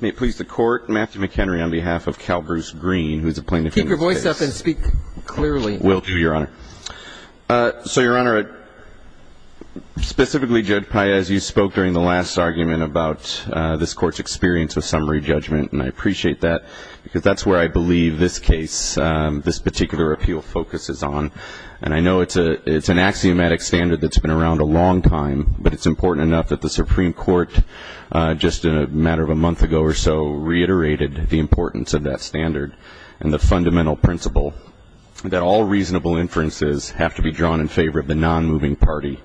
May it please the Court, Matthew McHenry on behalf of Calbruce Green, who is a plaintiff in this case. Keep your voice up and speak clearly. Will do, Your Honor. So, Your Honor, specifically, Judge Paez, you spoke during the last argument about this Court's experience with summary judgment, and I appreciate that because that's where I believe this case, this particular appeal, focuses on. And I know it's an axiomatic standard that's been around a long time, but it's important enough that the Supreme Court, just a matter of a month ago or so, reiterated the importance of that standard and the fundamental principle that all reasonable inferences have to be drawn in favor of the non-moving party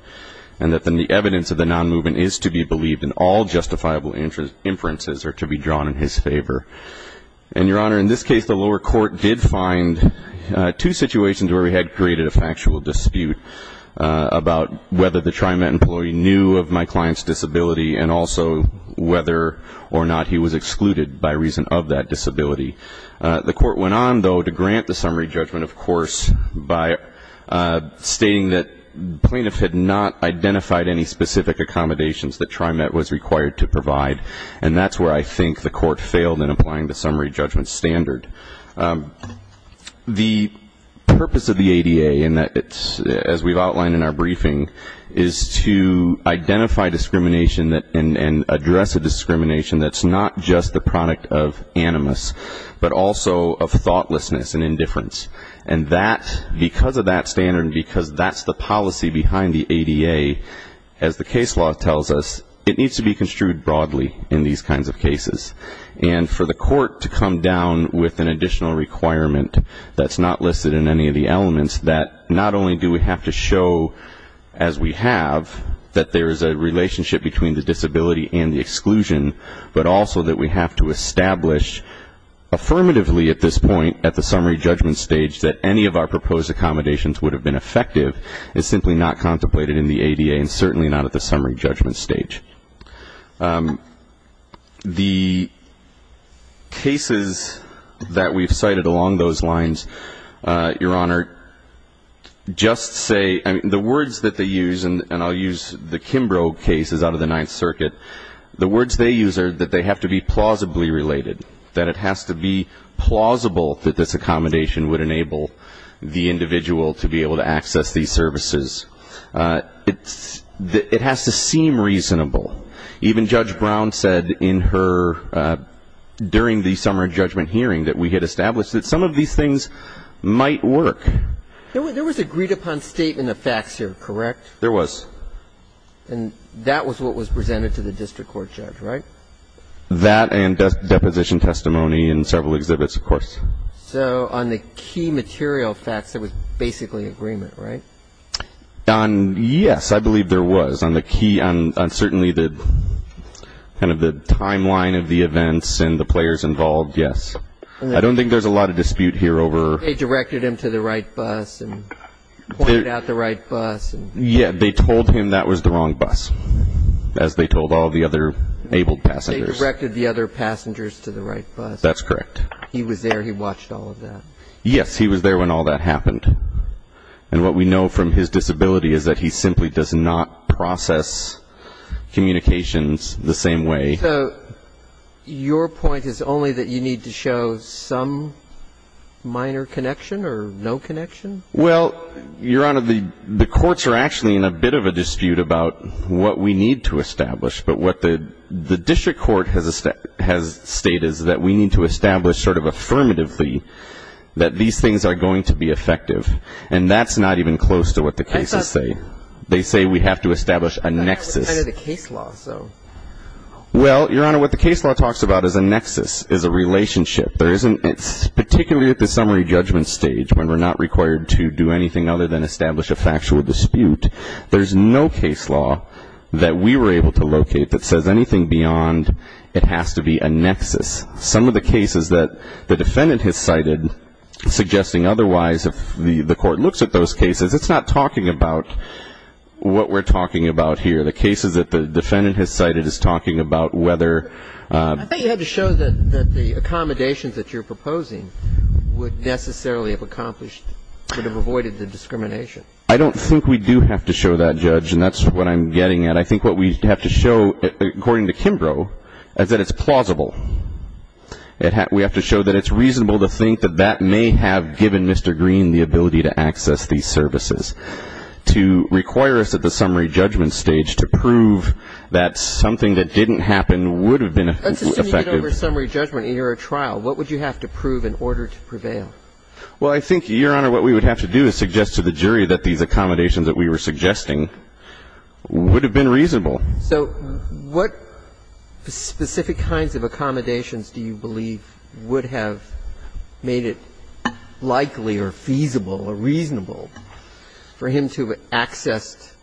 and that then the evidence of the non-moving is to be believed, and all justifiable inferences are to be drawn in his favor. And, Your Honor, in this case, the lower court did find two situations where we had created a factual dispute about whether the TriMet employee knew of my client's disability and also whether or not he was excluded by reason of that disability. The court went on, though, to grant the summary judgment, of course, by stating that the plaintiff had not identified any specific accommodations that TriMet was required to provide, and that's where I think the court failed in applying the summary judgment standard. The purpose of the ADA, as we've outlined in our briefing, is to identify discrimination and address a discrimination that's not just the product of animus, but also of thoughtlessness and indifference. And that, because of that standard and because that's the policy behind the ADA, as the case law tells us, it needs to be construed broadly in these kinds of cases. And for the court to come down with an additional requirement that's not listed in any of the elements, that not only do we have to show, as we have, that there is a relationship between the disability and the exclusion, but also that we have to establish affirmatively at this point at the summary judgment stage that any of our proposed accommodations would have been effective is simply not contemplated in the ADA and certainly not at the summary judgment stage. The cases that we've cited along those lines, Your Honor, just say the words that they use, and I'll use the Kimbrough cases out of the Ninth Circuit. The words they use are that they have to be plausibly related, that it has to be plausible that this accommodation would enable the individual to be able to access these services. It has to seem reasonable. Even Judge Brown said in her, during the summary judgment hearing, that we had established that some of these things might work. There was agreed-upon statement of facts here, correct? There was. And that was what was presented to the district court judge, right? That and deposition testimony in several exhibits, of course. So on the key material facts, there was basically agreement, right? Yes, I believe there was. On certainly the timeline of the events and the players involved, yes. I don't think there's a lot of dispute here over ---- They directed him to the right bus and pointed out the right bus. Yes, they told him that was the wrong bus, as they told all the other abled passengers. They directed the other passengers to the right bus. That's correct. He was there. He watched all of that. Yes, he was there when all that happened. And what we know from his disability is that he simply does not process communications the same way. So your point is only that you need to show some minor connection or no connection? Well, Your Honor, the courts are actually in a bit of a dispute about what we need to establish. But what the district court has stated is that we need to establish sort of affirmatively that these things are going to be effective. And that's not even close to what the cases say. They say we have to establish a nexus. It's kind of a case law, so. Well, Your Honor, what the case law talks about is a nexus, is a relationship. It's particularly at the summary judgment stage when we're not required to do anything other than establish a factual dispute. There's no case law that we were able to locate that says anything beyond it has to be a nexus. Some of the cases that the defendant has cited suggesting otherwise, if the court looks at those cases, it's not talking about what we're talking about here. The cases that the defendant has cited is talking about whether ---- I thought you had to show that the accommodations that you're proposing would necessarily have accomplished or would have avoided the discrimination. I don't think we do have to show that, Judge, and that's what I'm getting at. I think what we have to show, according to Kimbrough, is that it's plausible. We have to show that it's reasonable to think that that may have given Mr. Green the ability to access these services. To require us at the summary judgment stage to prove that something that didn't happen would have been effective. Let's assume you get over summary judgment and you're at trial. What would you have to prove in order to prevail? Well, I think, Your Honor, what we would have to do is suggest to the jury that these accommodations that we were suggesting would have been reasonable. So what specific kinds of accommodations do you believe would have made it likely or feasible or reasonable for him to have accessed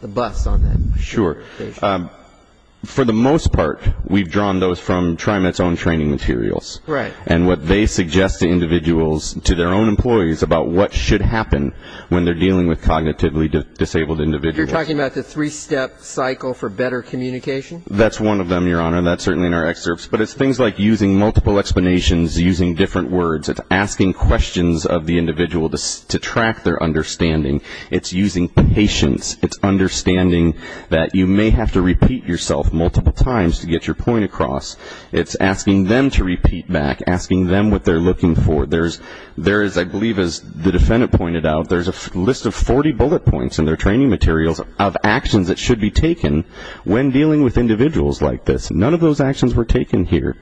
the bus on that? Sure. For the most part, we've drawn those from TriMet's own training materials. Right. And what they suggest to individuals, to their own employees, about what should happen when they're dealing with cognitively disabled individuals. You're talking about the three-step cycle for better communication? That's one of them, Your Honor. That's certainly in our excerpts. But it's things like using multiple explanations, using different words. It's asking questions of the individual to track their understanding. It's using patience. It's understanding that you may have to repeat yourself multiple times to get your point across. It's asking them to repeat back, asking them what they're looking for. There is, I believe, as the defendant pointed out, there's a list of 40 bullet points in their training materials of actions that should be taken when dealing with individuals like this. None of those actions were taken here.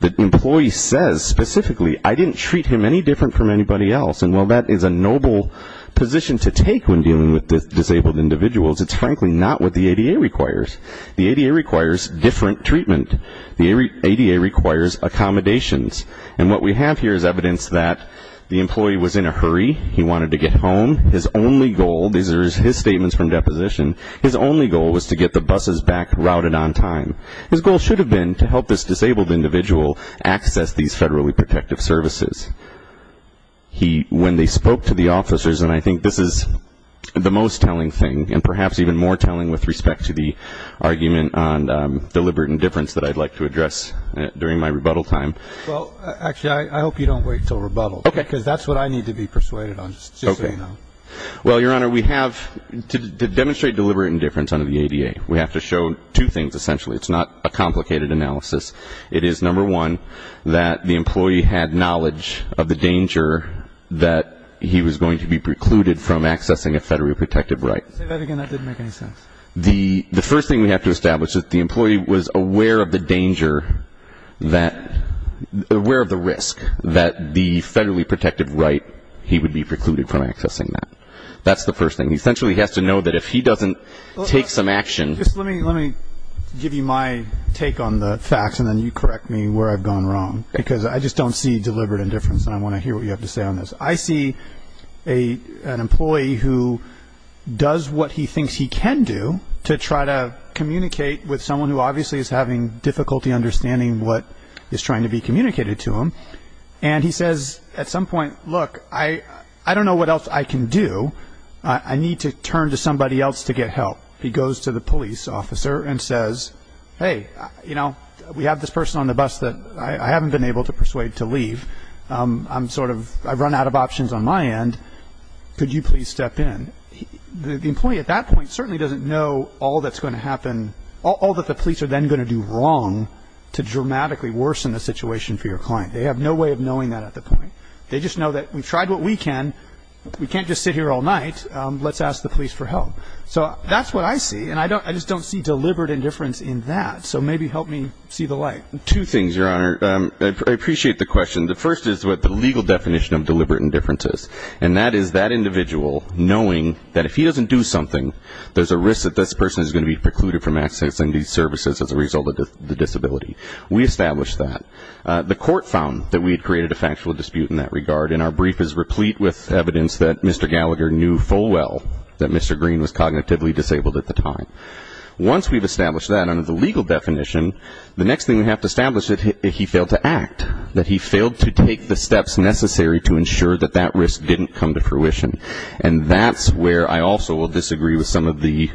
The employee says specifically, I didn't treat him any different from anybody else. And while that is a noble position to take when dealing with disabled individuals, it's frankly not what the ADA requires. The ADA requires different treatment. The ADA requires accommodations. And what we have here is evidence that the employee was in a hurry. He wanted to get home. His only goal, these are his statements from deposition, his only goal was to get the buses back routed on time. His goal should have been to help this disabled individual access these federally protective services. When they spoke to the officers, and I think this is the most telling thing, and perhaps even more telling with respect to the argument on deliberate indifference that I'd like to address during my rebuttal time. Well, actually, I hope you don't wait until rebuttal. Okay. Because that's what I need to be persuaded on, just so you know. Okay. Well, Your Honor, we have to demonstrate deliberate indifference under the ADA. We have to show two things, essentially. It's not a complicated analysis. It is, number one, that the employee had knowledge of the danger that he was going to be precluded from accessing a federally protective right. Say that again. That didn't make any sense. The first thing we have to establish is that the employee was aware of the danger that, aware of the risk that the federally protective right, he would be precluded from accessing that. That's the first thing. Essentially, he has to know that if he doesn't take some action. Let me give you my take on the facts, and then you correct me where I've gone wrong. Okay. Because I just don't see deliberate indifference, and I want to hear what you have to say on this. I see an employee who does what he thinks he can do to try to communicate with someone who obviously is having difficulty understanding what is trying to be communicated to him, and he says at some point, look, I don't know what else I can do. I need to turn to somebody else to get help. He goes to the police officer and says, hey, you know, we have this person on the bus that I haven't been able to persuade to leave. I'm sort of, I've run out of options on my end. Could you please step in? The employee at that point certainly doesn't know all that's going to happen, all that the police are then going to do wrong to dramatically worsen the situation for your client. They have no way of knowing that at the point. They just know that we've tried what we can. We can't just sit here all night. Let's ask the police for help. So that's what I see, and I just don't see deliberate indifference in that. So maybe help me see the light. Two things, Your Honor. I appreciate the question. The first is what the legal definition of deliberate indifference is, and that is that individual knowing that if he doesn't do something, there's a risk that this person is going to be precluded from accessing these services as a result of the disability. We established that. The court found that we had created a factual dispute in that regard, and our brief is replete with evidence that Mr. Gallagher knew full well that Mr. Green was cognitively disabled at the time. Once we've established that under the legal definition, the next thing we have to establish is that he failed to act, that he failed to take the steps necessary to ensure that that risk didn't come to fruition, and that's where I also will disagree with some of the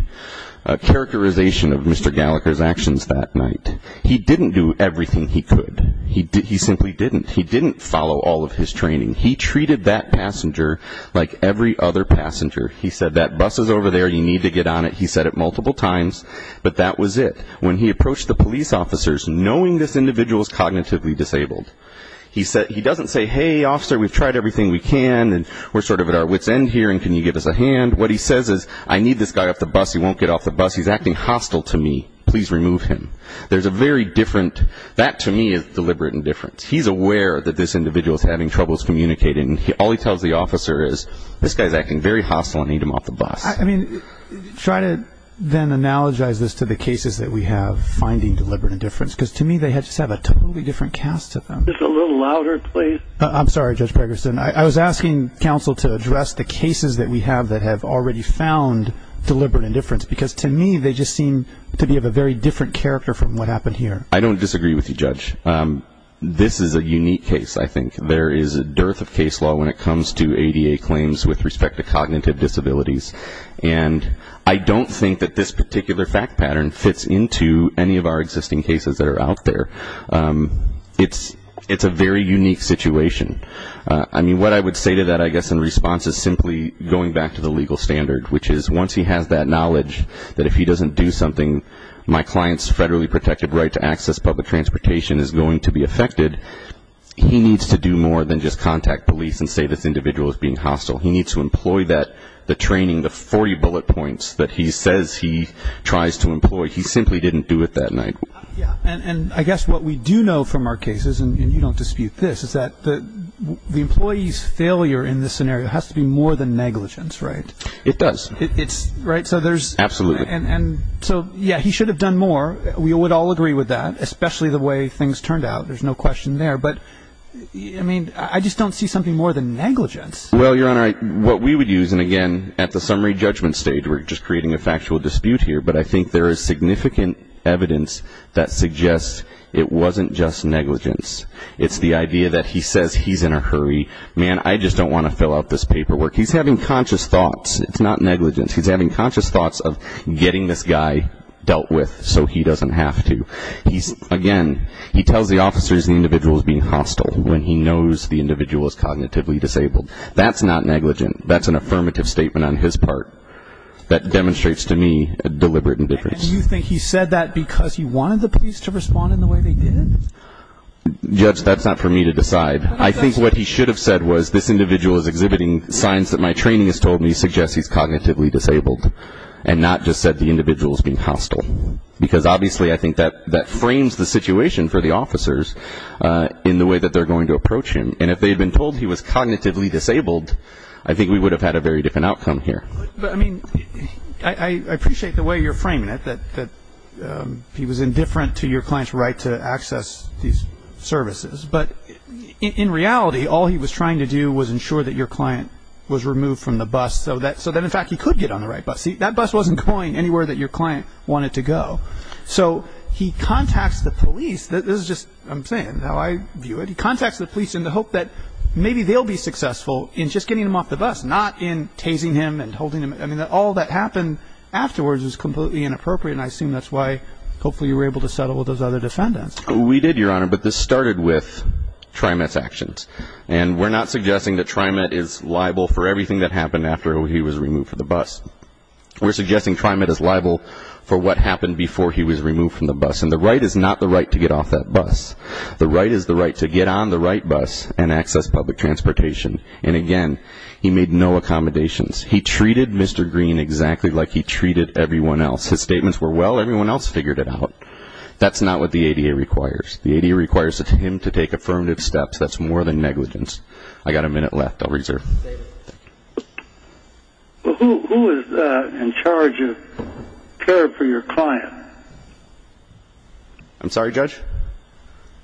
characterization of Mr. Gallagher's actions that night. He didn't do everything he could. He simply didn't. He didn't follow all of his training. He treated that passenger like every other passenger. He said, that bus is over there. You need to get on it. He said it multiple times, but that was it. When he approached the police officers, knowing this individual is cognitively disabled, he doesn't say, hey, officer, we've tried everything we can, and we're sort of at our wit's end here, and can you give us a hand. What he says is, I need this guy off the bus. He won't get off the bus. He's acting hostile to me. Please remove him. There's a very different, that to me is deliberate indifference. He's aware that this individual is having troubles communicating. All he tells the officer is, this guy is acting very hostile. I need him off the bus. I mean, try to then analogize this to the cases that we have finding deliberate indifference, because to me they just have a totally different cast to them. Just a little louder, please. I'm sorry, Judge Gregerson. I was asking counsel to address the cases that we have that have already found deliberate indifference, because to me they just seem to be of a very different character from what happened here. I don't disagree with you, Judge. This is a unique case, I think. There is a dearth of case law when it comes to ADA claims with respect to cognitive disabilities, and I don't think that this particular fact pattern fits into any of our existing cases that are out there. It's a very unique situation. I mean, what I would say to that, I guess, in response is simply going back to the legal standard, which is once he has that knowledge that if he doesn't do something, my client's federally protected right to access public transportation is going to be affected, he needs to do more than just contact police and say this individual is being hostile. He needs to employ that, the training, the 40 bullet points that he says he tries to employ. He simply didn't do it that night. And I guess what we do know from our cases, and you don't dispute this, is that the employee's failure in this scenario has to be more than negligence, right? It does. Right? Absolutely. And so, yeah, he should have done more. We would all agree with that, especially the way things turned out. There's no question there. But, I mean, I just don't see something more than negligence. Well, Your Honor, what we would use, and again, at the summary judgment stage, we're just creating a factual dispute here, but I think there is significant evidence that suggests it wasn't just negligence. It's the idea that he says he's in a hurry. Man, I just don't want to fill out this paperwork. He's having conscious thoughts. It's not negligence. He's having conscious thoughts of getting this guy dealt with so he doesn't have to. Again, he tells the officers the individual is being hostile when he knows the individual is cognitively disabled. That's not negligent. That's an affirmative statement on his part. That demonstrates to me a deliberate indifference. And you think he said that because he wanted the police to respond in the way they did? Judge, that's not for me to decide. I think what he should have said was, this individual is exhibiting signs that my training has told me suggests he's cognitively disabled, and not just said the individual is being hostile. Because, obviously, I think that frames the situation for the officers in the way that they're going to approach him. And if they had been told he was cognitively disabled, I think we would have had a very different outcome here. But, I mean, I appreciate the way you're framing it, that he was indifferent to your client's right to access these services. But, in reality, all he was trying to do was ensure that your client was removed from the bus so that, in fact, he could get on the right bus. See, that bus wasn't going anywhere that your client wanted to go. So he contacts the police. This is just what I'm saying, how I view it. He contacts the police in the hope that maybe they'll be successful in just getting him off the bus, not in tasing him and holding him. I mean, all that happened afterwards was completely inappropriate, and I assume that's why, hopefully, you were able to settle with those other defendants. We did, Your Honor. But this started with TriMet's actions. And we're not suggesting that TriMet is liable for everything that happened after he was removed from the bus. We're suggesting TriMet is liable for what happened before he was removed from the bus. And the right is not the right to get off that bus. The right is the right to get on the right bus and access public transportation. And, again, he made no accommodations. He treated Mr. Green exactly like he treated everyone else. His statements were, well, everyone else figured it out. That's not what the ADA requires. The ADA requires him to take affirmative steps. That's more than negligence. I've got a minute left. I'll reserve. Who is in charge of care for your client? I'm sorry, Judge? Can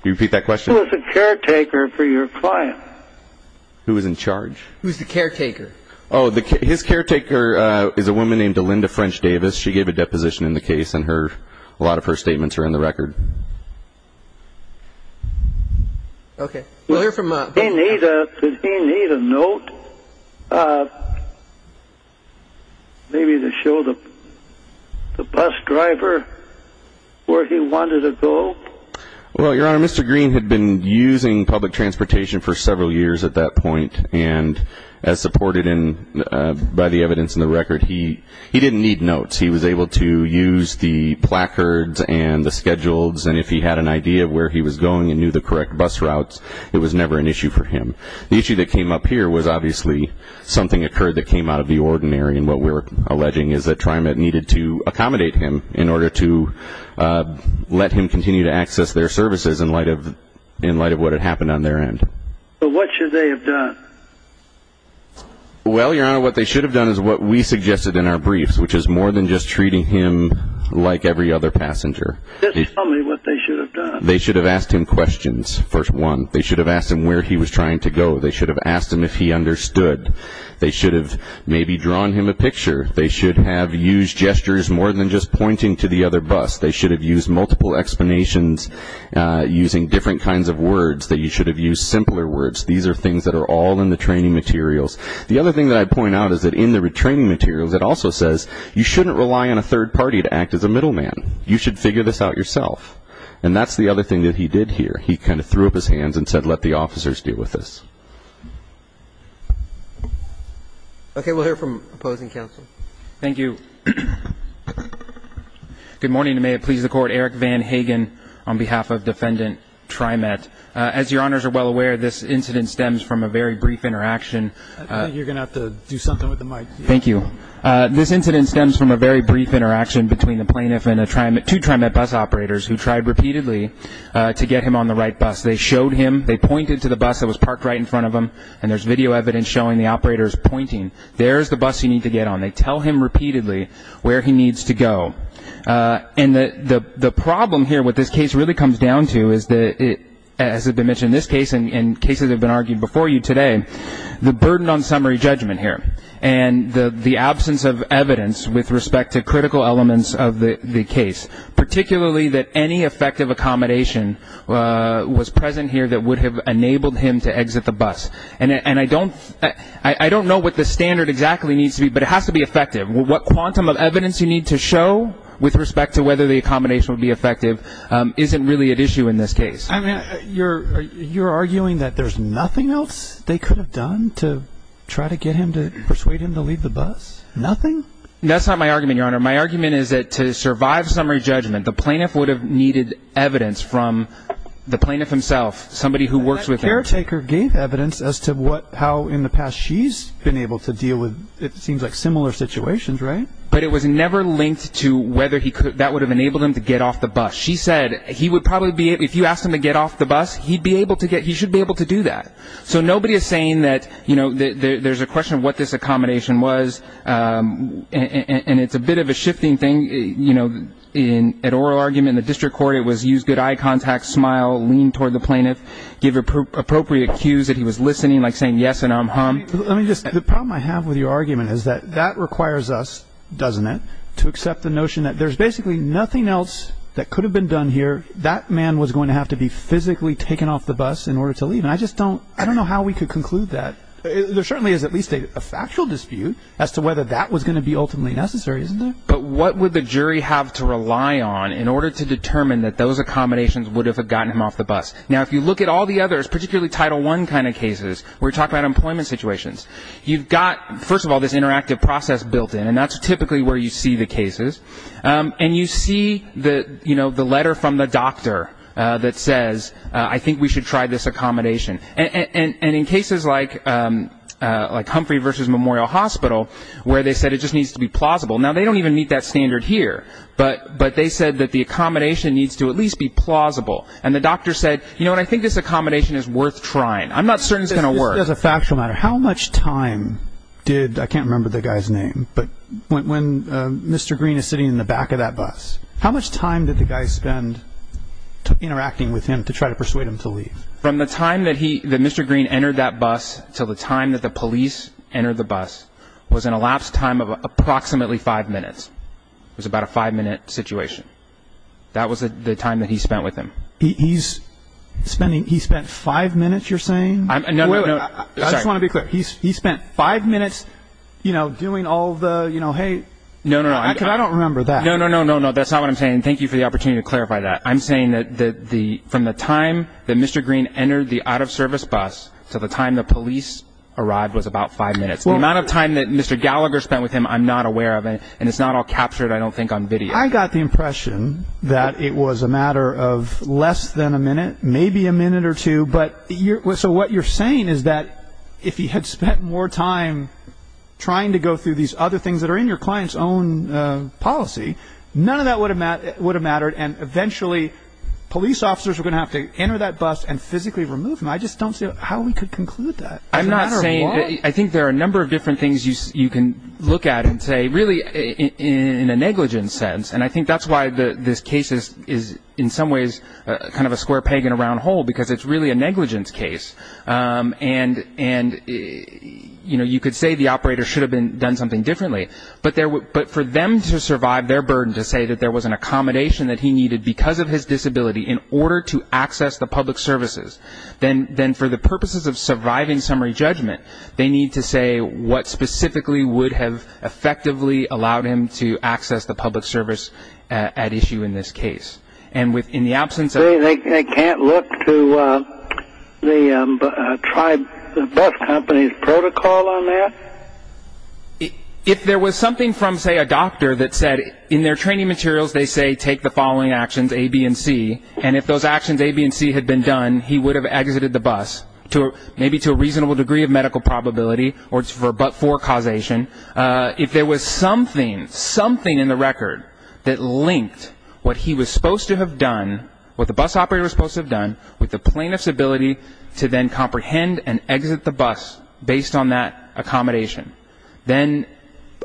you repeat that question? Who is the caretaker for your client? Who is in charge? Who is the caretaker? Oh, his caretaker is a woman named Linda French Davis. She gave a deposition in the case, and a lot of her statements are in the record. Okay. We'll hear from Bob. Does he need a note, maybe to show the bus driver where he wanted to go? Well, Your Honor, Mr. Green had been using public transportation for several years at that point, and as supported by the evidence in the record, he didn't need notes. He was able to use the placards and the schedules, and if he had an idea of where he was going and knew the correct bus routes, it was never an issue for him. The issue that came up here was obviously something occurred that came out of the ordinary, and what we're alleging is that TriMet needed to accommodate him in order to let him continue to access their services in light of what had happened on their end. So what should they have done? Well, Your Honor, what they should have done is what we suggested in our briefs, which is more than just treating him like every other passenger. This is probably what they should have done. They should have asked him questions, first one. They should have asked him where he was trying to go. They should have asked him if he understood. They should have maybe drawn him a picture. They should have used gestures more than just pointing to the other bus. They should have used multiple explanations using different kinds of words. They should have used simpler words. These are things that are all in the training materials. The other thing that I'd point out is that in the retraining materials, it also says you shouldn't rely on a third party to act as a middleman. You should figure this out yourself. And that's the other thing that he did here. He kind of threw up his hands and said, let the officers deal with this. Okay, we'll hear from opposing counsel. Thank you. Good morning, and may it please the Court. Eric Van Hagen on behalf of Defendant TriMet. As your honors are well aware, this incident stems from a very brief interaction. I think you're going to have to do something with the mic. Thank you. This incident stems from a very brief interaction between the plaintiff and two TriMet bus operators who tried repeatedly to get him on the right bus. They showed him. They pointed to the bus that was parked right in front of him, and there's video evidence showing the operators pointing, there's the bus you need to get on. They tell him repeatedly where he needs to go. And the problem here with this case really comes down to, as has been mentioned in this case and cases that have been argued before you today, the burden on summary judgment here and the absence of evidence with respect to critical elements of the case, particularly that any effective accommodation was present here that would have enabled him to exit the bus. And I don't know what the standard exactly needs to be, but it has to be effective. What quantum of evidence you need to show with respect to whether the accommodation would be effective isn't really at issue in this case. You're arguing that there's nothing else they could have done to try to get him to persuade him to leave the bus? Nothing? That's not my argument, Your Honor. My argument is that to survive summary judgment, the plaintiff would have needed evidence from the plaintiff himself, somebody who works with him. That caretaker gave evidence as to how in the past she's been able to deal with, it seems like, similar situations, right? But it was never linked to whether that would have enabled him to get off the bus. She said he would probably be, if you asked him to get off the bus, he'd be able to get, he should be able to do that. So nobody is saying that, you know, there's a question of what this accommodation was, and it's a bit of a shifting thing, you know, in an oral argument in the district court, it was use good eye contact, smile, lean toward the plaintiff, give appropriate cues that he was listening, like saying yes and I'm hum. Let me just, the problem I have with your argument is that that requires us, doesn't it, to accept the notion that there's basically nothing else that could have been done here, that man was going to have to be physically taken off the bus in order to leave, and I just don't, I don't know how we could conclude that. There certainly is at least a factual dispute as to whether that was going to be ultimately necessary, isn't there? But what would the jury have to rely on in order to determine that those accommodations would have gotten him off the bus? Now, if you look at all the others, particularly Title I kind of cases, we're talking about employment situations. You've got, first of all, this interactive process built in, and that's typically where you see the cases. And you see the, you know, the letter from the doctor that says, I think we should try this accommodation. And in cases like Humphrey v. Memorial Hospital, where they said it just needs to be plausible. Now, they don't even meet that standard here, but they said that the accommodation needs to at least be plausible. And the doctor said, you know what, I think this accommodation is worth trying. I'm not certain it's going to work. As a factual matter, how much time did, I can't remember the guy's name, but when Mr. Green is sitting in the back of that bus, how much time did the guy spend interacting with him to try to persuade him to leave? From the time that he, that Mr. Green entered that bus until the time that the police entered the bus was an elapsed time of approximately five minutes. It was about a five-minute situation. That was the time that he spent with him. He spent five minutes, you're saying? No, no, no. I just want to be clear. He spent five minutes, you know, doing all the, you know, hey. No, no, no. Because I don't remember that. No, no, no, no, no. That's not what I'm saying. Thank you for the opportunity to clarify that. I'm saying that from the time that Mr. Green entered the out-of-service bus to the time the police arrived was about five minutes. The amount of time that Mr. Gallagher spent with him, I'm not aware of. And it's not all captured, I don't think, on video. I got the impression that it was a matter of less than a minute, maybe a minute or two. So what you're saying is that if he had spent more time trying to go through these other things that are in your client's own policy, none of that would have mattered, and eventually police officers were going to have to enter that bus and physically remove him. I just don't see how we could conclude that. I'm not saying that. I think there are a number of different things you can look at and say, but really in a negligence sense, and I think that's why this case is in some ways kind of a square peg in a round hole because it's really a negligence case. And, you know, you could say the operator should have done something differently, but for them to survive their burden to say that there was an accommodation that he needed because of his disability in order to access the public services, then for the purposes of surviving summary judgment, they need to say what specifically would have effectively allowed him to access the public service at issue in this case. And in the absence of... They can't look to the bus company's protocol on that? If there was something from, say, a doctor that said in their training materials, they say take the following actions, A, B, and C, and if those actions, A, B, and C, had been done, then he would have exited the bus maybe to a reasonable degree of medical probability or for but-for causation. If there was something, something in the record that linked what he was supposed to have done, what the bus operator was supposed to have done, with the plaintiff's ability to then comprehend and exit the bus based on that accommodation, then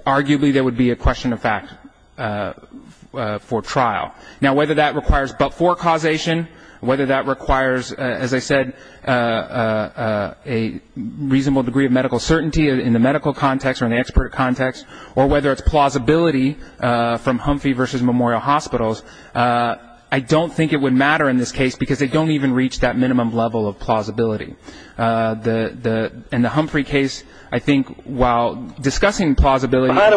arguably there would be a question of fact for trial. Now, whether that requires but-for causation, whether that requires, as I said, a reasonable degree of medical certainty in the medical context or in the expert context, or whether it's plausibility from Humphrey versus Memorial Hospitals, I don't think it would matter in this case because they don't even reach that minimum level of plausibility. In the Humphrey case, I think while discussing plausibility... I'm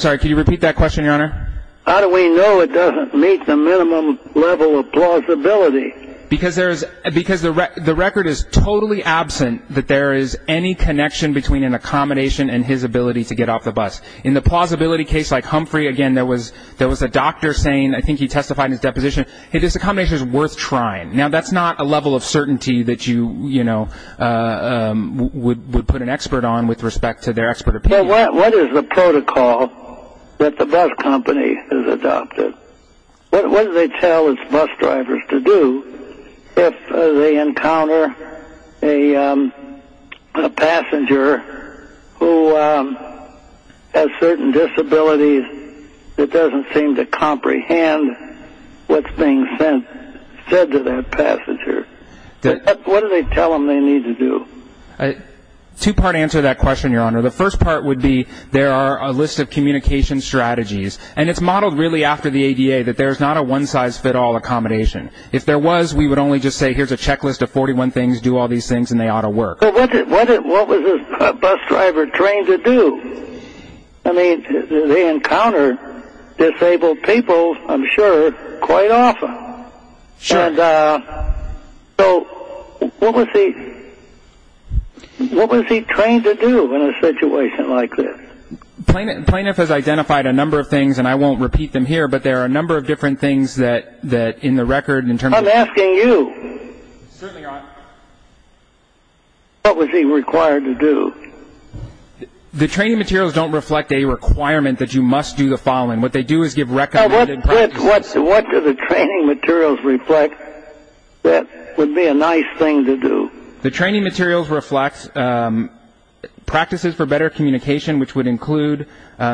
sorry, can you repeat that question, Your Honor? How do we know it doesn't meet the minimum level of plausibility? Because the record is totally absent that there is any connection between an accommodation and his ability to get off the bus. In the plausibility case like Humphrey, again, there was a doctor saying, I think he testified in his deposition, hey, this accommodation is worth trying. Now, that's not a level of certainty that you would put an expert on with respect to their expert opinion. What is the protocol that the bus company has adopted? What do they tell its bus drivers to do if they encounter a passenger who has certain disabilities that doesn't seem to comprehend what's being said to that passenger? What do they tell them they need to do? The first part would be there are a list of communication strategies, and it's modeled really after the ADA that there's not a one-size-fits-all accommodation. If there was, we would only just say, here's a checklist of 41 things. Do all these things, and they ought to work. What was the bus driver trained to do? I mean, they encounter disabled people, I'm sure, quite often. And so what was he trained to do in a situation like this? Plaintiff has identified a number of things, and I won't repeat them here, but there are a number of different things that in the record in terms of the- I'm asking you, what was he required to do? The training materials don't reflect a requirement that you must do the following. What they do is give recommended practices. What do the training materials reflect that would be a nice thing to do? The training materials reflect practices for better communication, which would include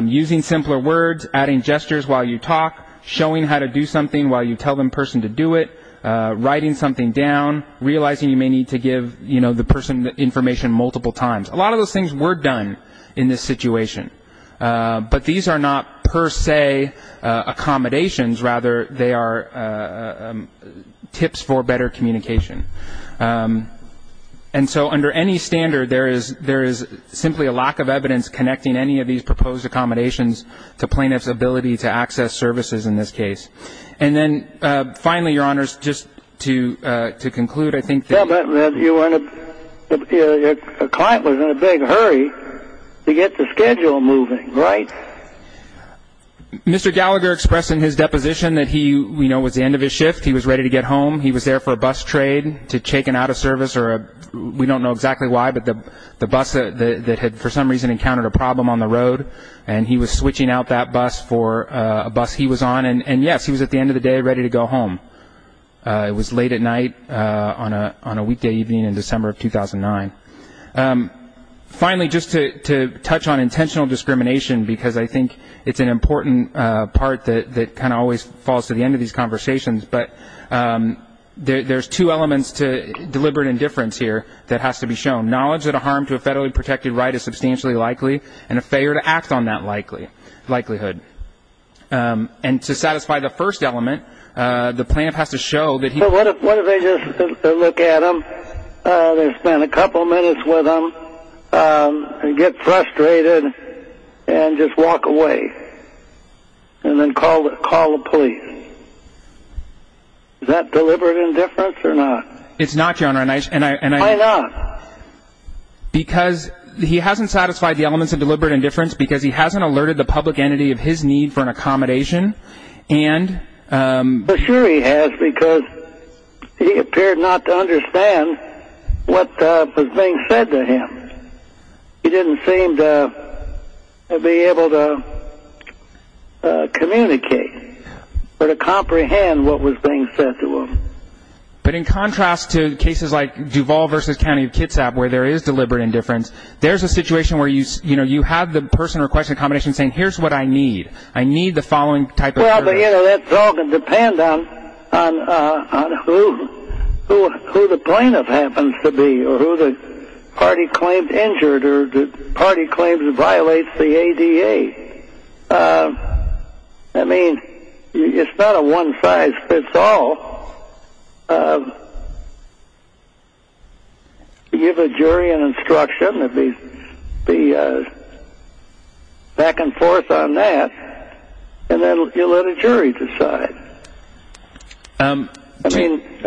using simpler words, adding gestures while you talk, showing how to do something while you tell the person to do it, writing something down, realizing you may need to give the person information multiple times. A lot of those things were done in this situation, but these are not per se accommodations. Rather, they are tips for better communication. And so under any standard, there is simply a lack of evidence connecting any of these proposed accommodations to plaintiff's ability to access services in this case. And then finally, Your Honors, just to conclude, I think that- Your client was in a big hurry to get the schedule moving, right? Mr. Gallagher expressed in his deposition that he was at the end of his shift. He was ready to get home. He was there for a bus trade to check in out of service or we don't know exactly why, but the bus that had for some reason encountered a problem on the road, and he was switching out that bus for a bus he was on. And, yes, he was at the end of the day ready to go home. It was late at night on a weekday evening in December of 2009. Finally, just to touch on intentional discrimination, because I think it's an important part that kind of always falls to the end of these conversations, but there's two elements to deliberate indifference here that has to be shown. Knowledge that a harm to a federally protected right is substantially likely and a failure to act on that likelihood. And to satisfy the first element, the plaintiff has to show that he- What if they just look at him, they spend a couple minutes with him, and get frustrated and just walk away and then call the police? Is that deliberate indifference or not? It's not, Your Honor, and I- Why not? Because he hasn't satisfied the elements of deliberate indifference because he hasn't alerted the public entity of his need for an accommodation and- But sure he has because he appeared not to understand what was being said to him. He didn't seem to be able to communicate or to comprehend what was being said to him. But in contrast to cases like Duval v. County of Kitsap where there is deliberate indifference, there's a situation where you have the person requesting accommodation saying, here's what I need. I need the following type of- Well, that's all going to depend on who the plaintiff happens to be or who the party claims injured or the party claims violates the ADA. I mean, it's not a one size fits all. You give a jury an instruction that they back and forth on that and then you let a jury decide. I mean, it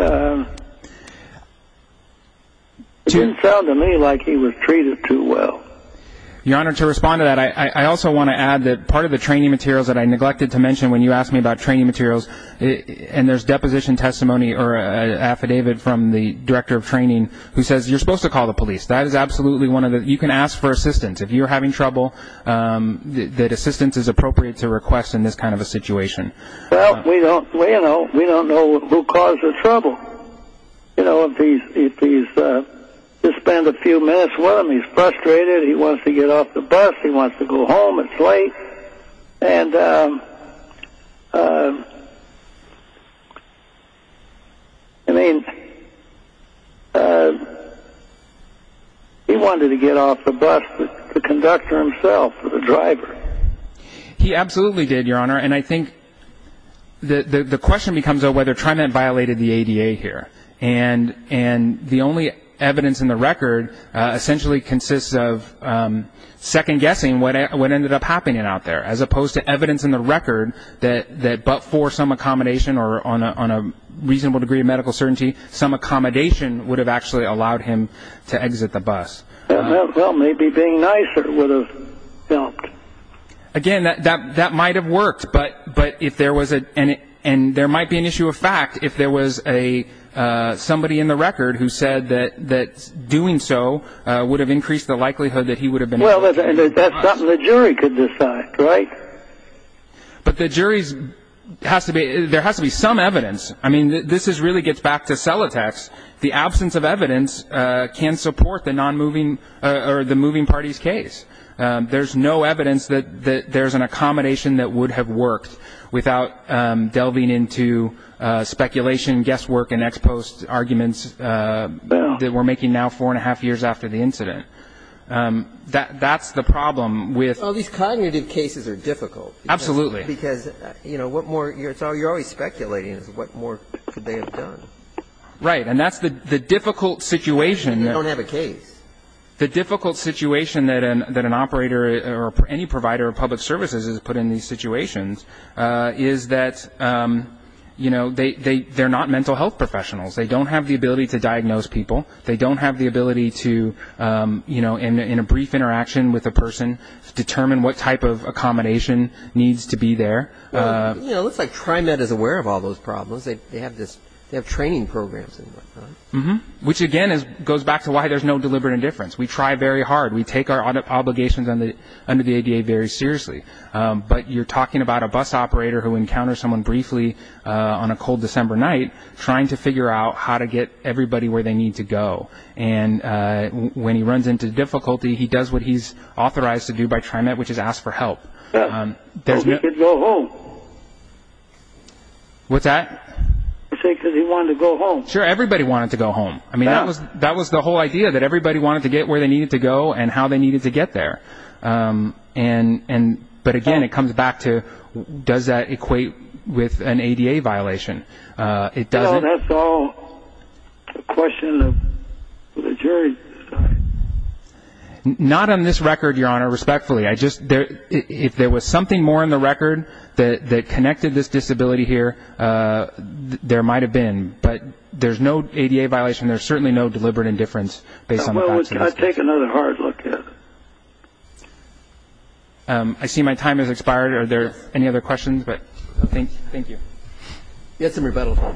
didn't sound to me like he was treated too well. Your Honor, to respond to that, I also want to add that part of the training materials that I neglected to mention when you asked me about training materials, and there's deposition testimony or an affidavit from the director of training who says you're supposed to call the police. That is absolutely one of the- You can ask for assistance if you're having trouble, that assistance is appropriate to request in this kind of a situation. Well, we don't know who caused the trouble. You know, if he's- You spend a few minutes with him, he's frustrated, he wants to get off the bus, he wants to go home, it's late. And, I mean, he wanted to get off the bus, the conductor himself, the driver. He absolutely did, Your Honor, and I think the question becomes though whether TriMet violated the ADA here. And the only evidence in the record essentially consists of second guessing what ended up happening out there, as opposed to evidence in the record that but for some accommodation or on a reasonable degree of medical certainty, some accommodation would have actually allowed him to exit the bus. Well, maybe being nicer would have helped. Again, that might have worked, but if there was a- and there might be an issue of fact if there was somebody in the record who said that doing so would have increased the likelihood that he would have been- Well, that's something the jury could decide, right? But the jury's- there has to be some evidence. I mean, this really gets back to Celotex. The absence of evidence can support the moving parties case. There's no evidence that there's an accommodation that would have worked without delving into speculation, guesswork, and ex post arguments that we're making now four and a half years after the incident. That's the problem with- Well, these cognitive cases are difficult. Absolutely. Because, you know, what more- so you're always speculating as to what more could they have done. Right. And that's the difficult situation- They don't have a case. The difficult situation that an operator or any provider of public services has put in these situations is that, you know, they're not mental health professionals. They don't have the ability to diagnose people. They don't have the ability to, you know, in a brief interaction with a person, determine what type of accommodation needs to be there. You know, it looks like TriMed is aware of all those problems. They have this- they have training programs. Which, again, goes back to why there's no deliberate indifference. We try very hard. We take our obligations under the ADA very seriously. But you're talking about a bus operator who encounters someone briefly on a cold December night trying to figure out how to get everybody where they need to go. And when he runs into difficulty, he does what he's authorized to do by TriMed, which is ask for help. So he could go home. What's that? He wanted to go home. Sure, everybody wanted to go home. I mean, that was the whole idea, that everybody wanted to get where they needed to go and how they needed to get there. But, again, it comes back to does that equate with an ADA violation? You know, that's all a question of the jury's side. Not on this record, Your Honor, respectfully. I just- if there was something more in the record that connected this disability here, there might have been. But there's no ADA violation. There's certainly no deliberate indifference based on the facts of this case. Well, we've got to take another hard look at it. I see my time has expired. Are there any other questions? Thank you. You had some rebuttal time.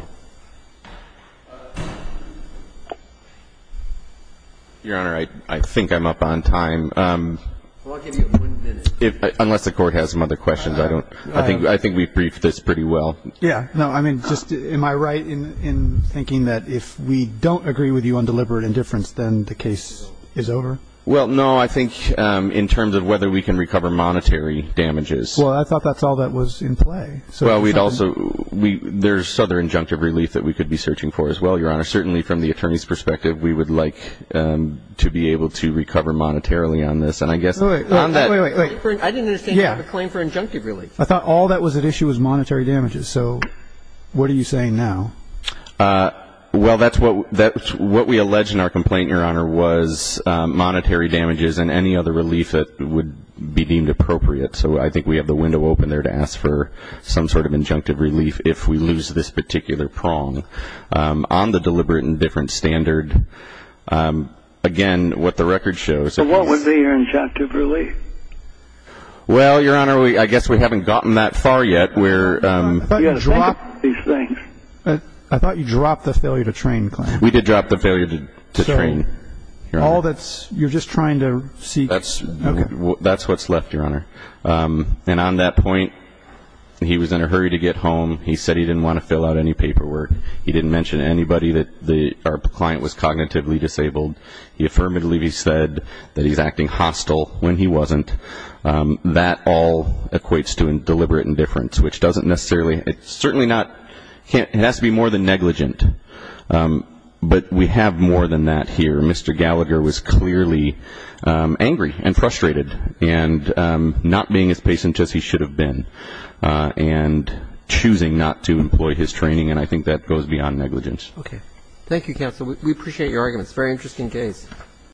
Your Honor, I think I'm up on time. Well, I'll give you one minute. Unless the Court has some other questions, I think we've briefed this pretty well. Yeah. No, I mean, just am I right in thinking that if we don't agree with you on deliberate indifference, then the case is over? Well, no, I think in terms of whether we can recover monetary damages. Well, I thought that's all that was in play. Well, we'd also- there's other injunctive relief that we could be searching for as well, Your Honor. Certainly from the attorney's perspective, we would like to be able to recover monetarily on this. And I guess on that- Wait, wait, wait. I didn't understand you have a claim for injunctive relief. I thought all that was at issue was monetary damages. So what are you saying now? Well, that's what we alleged in our complaint, Your Honor, was monetary damages and any other relief that would be deemed appropriate. So I think we have the window open there to ask for some sort of injunctive relief if we lose this particular prong on the deliberate indifference standard. Again, what the record shows- But what would be your injunctive relief? Well, Your Honor, I guess we haven't gotten that far yet. We're- I thought you dropped these things. I thought you dropped the failure to train claim. We did drop the failure to train. All that's- you're just trying to seek- That's what's left, Your Honor. And on that point, he was in a hurry to get home. He said he didn't want to fill out any paperwork. He didn't mention to anybody that our client was cognitively disabled. He affirmatively said that he's acting hostile when he wasn't. That all equates to deliberate indifference, which doesn't necessarily- certainly not- it has to be more than negligent. But we have more than that here. Mr. Gallagher was clearly angry and frustrated and not being as patient as he should have been and choosing not to employ his training, and I think that goes beyond negligence. Okay. Thank you, counsel. We appreciate your arguments. Very interesting case.